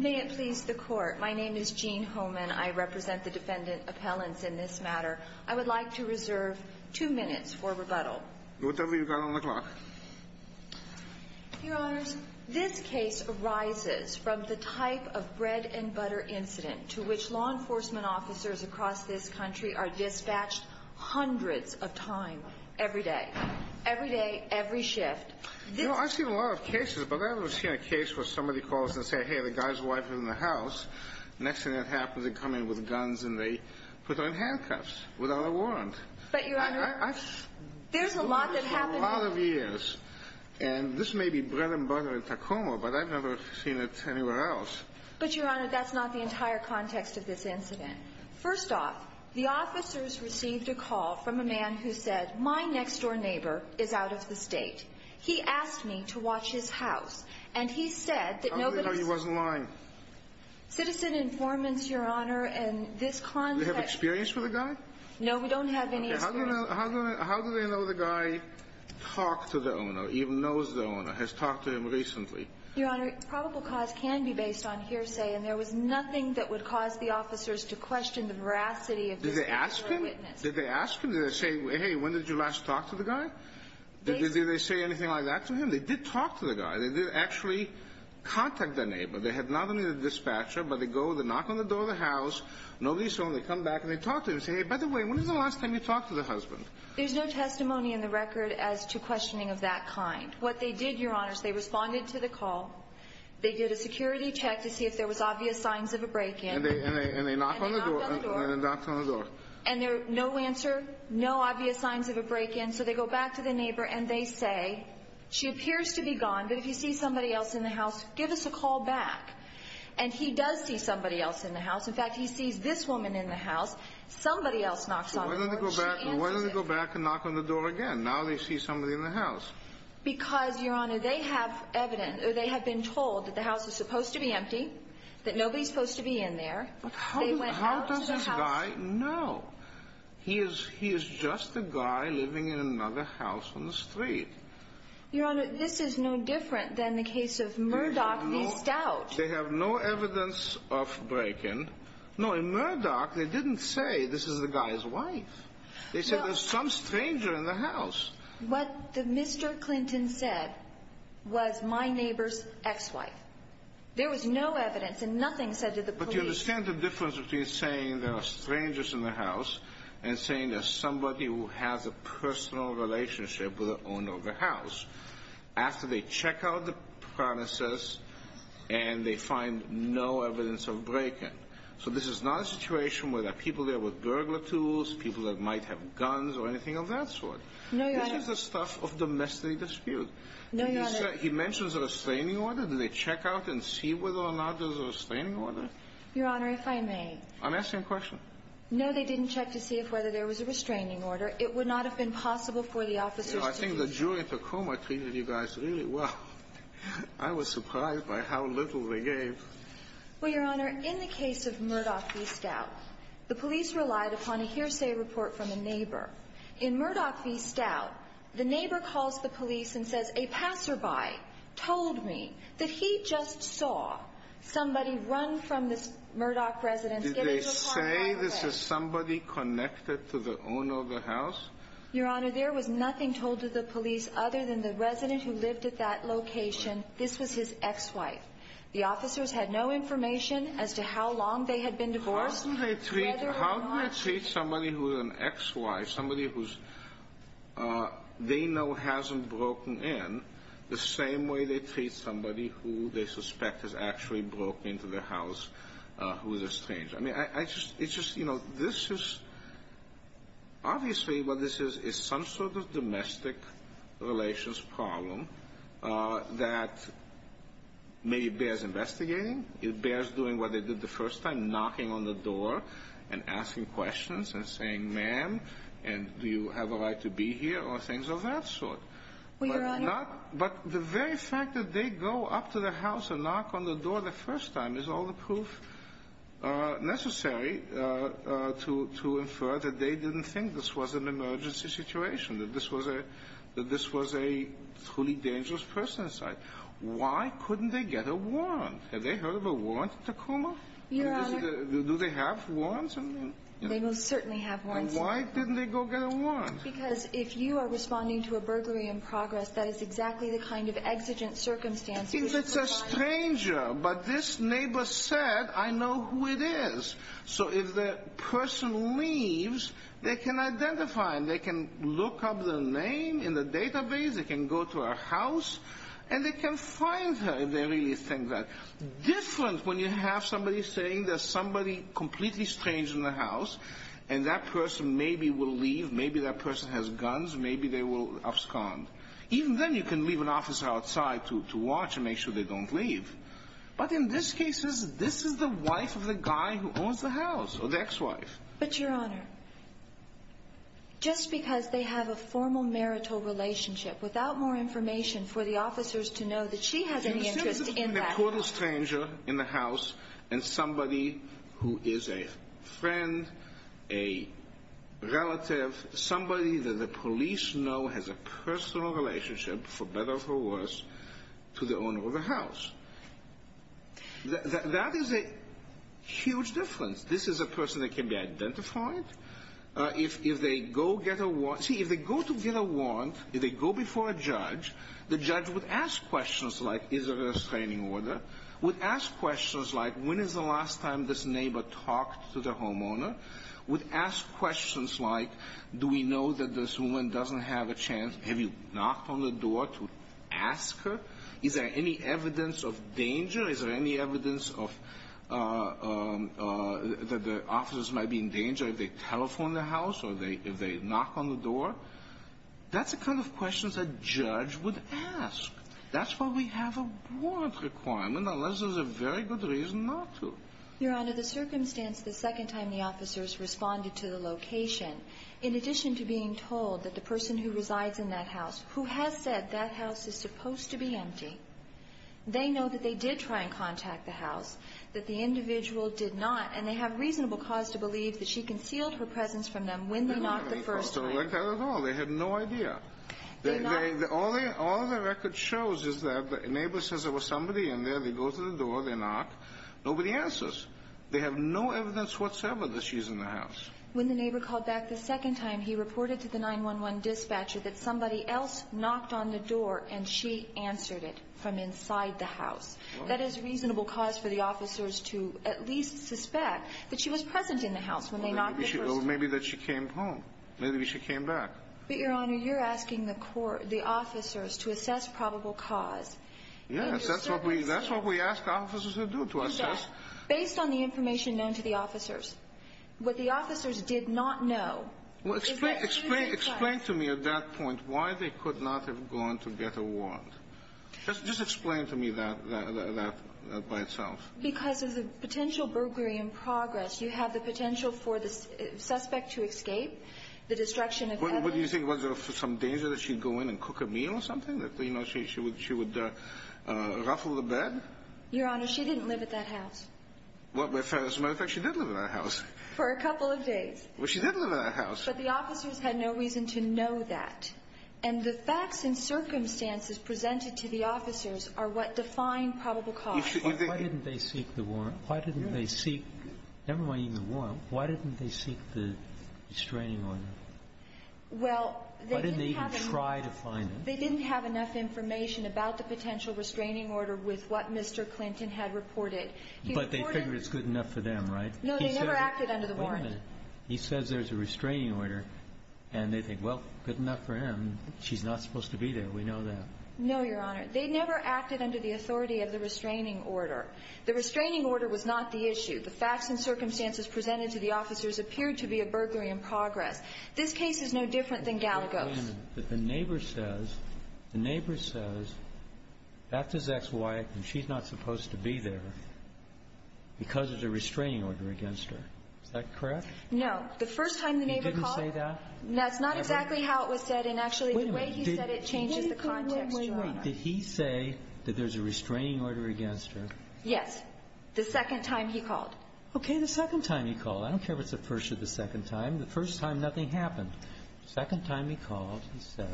May it please the court. My name is Jean Homan. I represent the defendant appellants in this matter. I would like to reserve two minutes for rebuttal. Go ahead. Tell me what you've got on the clock. Your Honors, this case arises from the type of bread-and-butter incident to which law enforcement officers across this country are dispatched hundreds of times every day. Every day, every shift. You know, I've seen a lot of cases, but I've never seen a case where somebody calls and says, Hey, the guy's wife is in the house. Next thing that happens, they come in with guns and they put her in handcuffs without a warrant. But, Your Honor, there's a lot that happened. For a lot of years. And this may be bread-and-butter in Tacoma, but I've never seen it anywhere else. But, Your Honor, that's not the entire context of this incident. First off, the officers received a call from a man who said, My next-door neighbor is out of the state. He asked me to watch his house. And he said that nobody... How do they know he wasn't lying? Citizen informants, Your Honor, in this context... Do they have experience with the guy? No, we don't have any experience. How do they know the guy talked to the owner, even knows the owner, has talked to him recently? Your Honor, probable cause can be based on hearsay. And there was nothing that would cause the officers to question the veracity of this individual witness. Did they ask him? Did they ask him? Did they say, Hey, when did you last talk to the guy? Did they say anything like that to him? They did talk to the guy. They did actually contact their neighbor. They had not only the dispatcher, but they go, they knock on the door of the house, nobody's home. They come back and they talk to him and say, Hey, by the way, when was the last time you talked to the husband? There's no testimony in the record as to questioning of that kind. What they did, Your Honor, is they responded to the call. They did a security check to see if there was obvious signs of a break-in. And they knock on the door. And they knock on the door. And there's no answer, no obvious signs of a break-in. So they go back to the neighbor and they say, She appears to be gone, but if you see somebody else in the house, give us a call back. And he does see somebody else in the house. In fact, he sees this woman in the house. Somebody else knocks on the door and she answers him. Why don't they go back and knock on the door again? Now they see somebody in the house. Because, Your Honor, they have been told that the house is supposed to be empty, that nobody's supposed to be in there. But how does this guy know? He is just a guy living in another house on the street. Your Honor, this is no different than the case of Murdoch missed out. They have no evidence of break-in. No, in Murdoch, they didn't say this is the guy's wife. They said there's some stranger in the house. What Mr. Clinton said was my neighbor's ex-wife. There was no evidence and nothing said to the police. But you understand the difference between saying there are strangers in the house and saying there's somebody who has a personal relationship with the owner of the house. After they check out the premises and they find no evidence of break-in. So this is not a situation where there are people there with gurgler tools, people that might have guns or anything of that sort. No, Your Honor. This is the stuff of domestic dispute. No, Your Honor. He mentions a restraining order. Do they check out and see whether or not there's a restraining order? Your Honor, if I may. I'm asking a question. No, they didn't check to see if whether there was a restraining order. It would not have been possible for the officers to be. I think the jury in Tacoma treated you guys really well. I was surprised by how little they gave. Well, Your Honor, in the case of Murdoch missed out, the police relied upon a hearsay report from a neighbor. In Murdoch missed out, the neighbor calls the police and says a passerby told me that he just saw somebody run from this Murdoch residence. Did they say this was somebody connected to the owner of the house? Your Honor, there was nothing told to the police other than the resident who lived at that location, this was his ex-wife. The officers had no information as to how long they had been divorced. How do they treat somebody who is an ex-wife, somebody who they know hasn't broken in, the same way they treat somebody who they suspect has actually broken into their house, who is a stranger? I mean, it's just, you know, this is obviously what this is, is some sort of domestic relations problem that maybe bears investigating. It bears doing what they did the first time, knocking on the door and asking questions and saying, ma'am, do you have a right to be here or things of that sort. Well, Your Honor. But the very fact that they go up to the house and knock on the door the first time is all the proof necessary to infer that they didn't think this was an emergency situation, that this was a truly dangerous person inside. Why couldn't they get a warrant? Have they heard of a warrant at Tacoma? Your Honor. Do they have warrants? They most certainly have warrants. Then why didn't they go get a warrant? Because if you are responding to a burglary in progress, that is exactly the kind of exigent circumstance we would provide. If it's a stranger, but this neighbor said, I know who it is. So if the person leaves, they can identify him. They can look up the name in the database. They can go to her house, and they can find her if they really think that. Different when you have somebody saying there's somebody completely strange in the house, and that person maybe will leave. Maybe that person has guns. Maybe they will abscond. Even then, you can leave an officer outside to watch and make sure they don't leave. But in this case, this is the wife of the guy who owns the house, or the ex-wife. But, Your Honor, just because they have a formal marital relationship, without more information for the officers to know that she has any interest in that. It was simply between the total stranger in the house and somebody who is a friend, a relative, somebody that the police know has a personal relationship, for better or for worse, to the owner of the house. That is a huge difference. This is a person that can be identified. If they go to get a warrant, if they go before a judge, the judge would ask questions like, is there a restraining order? Would ask questions like, when is the last time this neighbor talked to the homeowner? Would ask questions like, do we know that this woman doesn't have a chance? Have you knocked on the door to ask her? Is there any evidence of danger? Is there any evidence that the officers might be in danger if they telephone the house or if they knock on the door? That's the kind of questions a judge would ask. That's why we have a warrant requirement, unless there's a very good reason not to. Your Honor, the circumstance the second time the officers responded to the location, in addition to being told that the person who resides in that house, who has said that house is supposed to be empty, they know that they did try and contact the house, that the individual did not, and they have reasonable cause to believe that she concealed her presence from them when they knocked the first time. They had no idea. All the record shows is that the neighbor says there was somebody in there. They go to the door. They knock. Nobody answers. They have no evidence whatsoever that she's in the house. When the neighbor called back the second time, he reported to the 911 dispatcher that somebody else knocked on the door and she answered it from inside the house. That is reasonable cause for the officers to at least suspect that she was present in the house when they knocked the first time. Or maybe that she came home. Maybe she came back. But, Your Honor, you're asking the officers to assess probable cause. Based on the information known to the officers, what the officers did not know is that she was inside. Explain to me at that point why they could not have gone to get a warrant. Just explain to me that by itself. Because of the potential burglary in progress, you have the potential for the suspect to escape, the destruction of evidence. What do you think? Was there some danger that she'd go in and cook a meal or something, that she would ruffle the bed? Your Honor, she didn't live at that house. Well, as a matter of fact, she did live in that house. For a couple of days. Well, she did live in that house. But the officers had no reason to know that. And the facts and circumstances presented to the officers are what define probable cause. Why didn't they seek the warrant? Why didn't they seek the restraining order? Well, they didn't have enough information about the potential restraining order with what Mr. Clinton had reported. But they figured it's good enough for them, right? No, they never acted under the warrant. Wait a minute. He says there's a restraining order, and they think, well, good enough for him. She's not supposed to be there. We know that. No, Your Honor. They never acted under the authority of the restraining order. The restraining order was not the issue. The facts and circumstances presented to the officers appeared to be a burglary in progress. This case is no different than Gallego's. Wait a minute. The neighbor says, the neighbor says that's his ex-wife, and she's not supposed to be there because of the restraining order against her. Is that correct? No. The first time the neighbor called. He didn't say that? That's not exactly how it was said. And actually, the way he said it changes the context, Your Honor. Wait a minute. Did he say that there's a restraining order against her? Yes. The second time he called. Okay. The second time he called. I don't care if it's the first or the second time. The first time, nothing happened. The second time he called, he said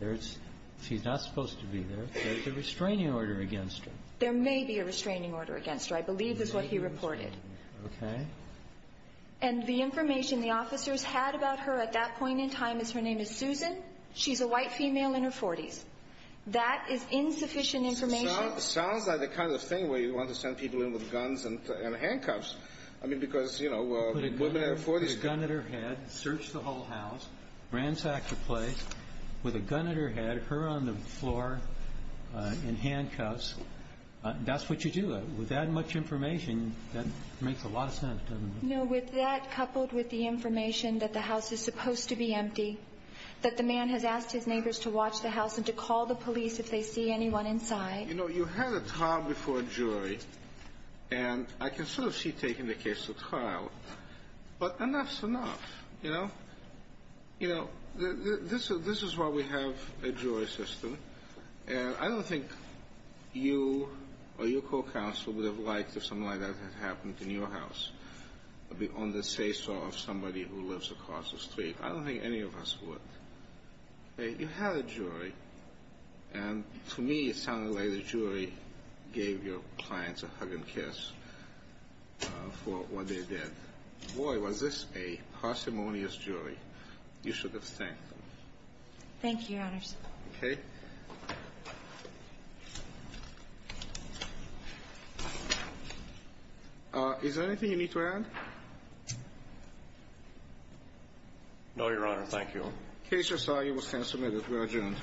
there's – she's not supposed to be there. There's a restraining order against her. There may be a restraining order against her. I believe this is what he reported. Okay. And the information the officers had about her at that point in time is her name is Susan. She's a white female in her 40s. That is insufficient information. Sounds like the kind of thing where you want to send people in with guns and handcuffs. I mean, because, you know, women in their 40s can't do that. Ransack the place with a gun at her head, her on the floor in handcuffs. That's what you do. With that much information, that makes a lot of sense, doesn't it? No. With that coupled with the information that the house is supposed to be empty, that the man has asked his neighbors to watch the house and to call the police if they see anyone inside. You know, you had a trial before a jury. And I can sort of see taking the case to trial. But enough's enough, you know. You know, this is why we have a jury system. And I don't think you or your court counsel would have liked if something like that had happened in your house on the say-so of somebody who lives across the street. I don't think any of us would. You had a jury. And to me, it sounded like the jury gave your clients a hug and kiss for what they did. Boy, was this a parsimonious jury. You should have thanked them. Thank you, Your Honors. Okay. Is there anything you need to add? No, Your Honor. Thank you. The case is signed. You will stand submitted. We are adjourned.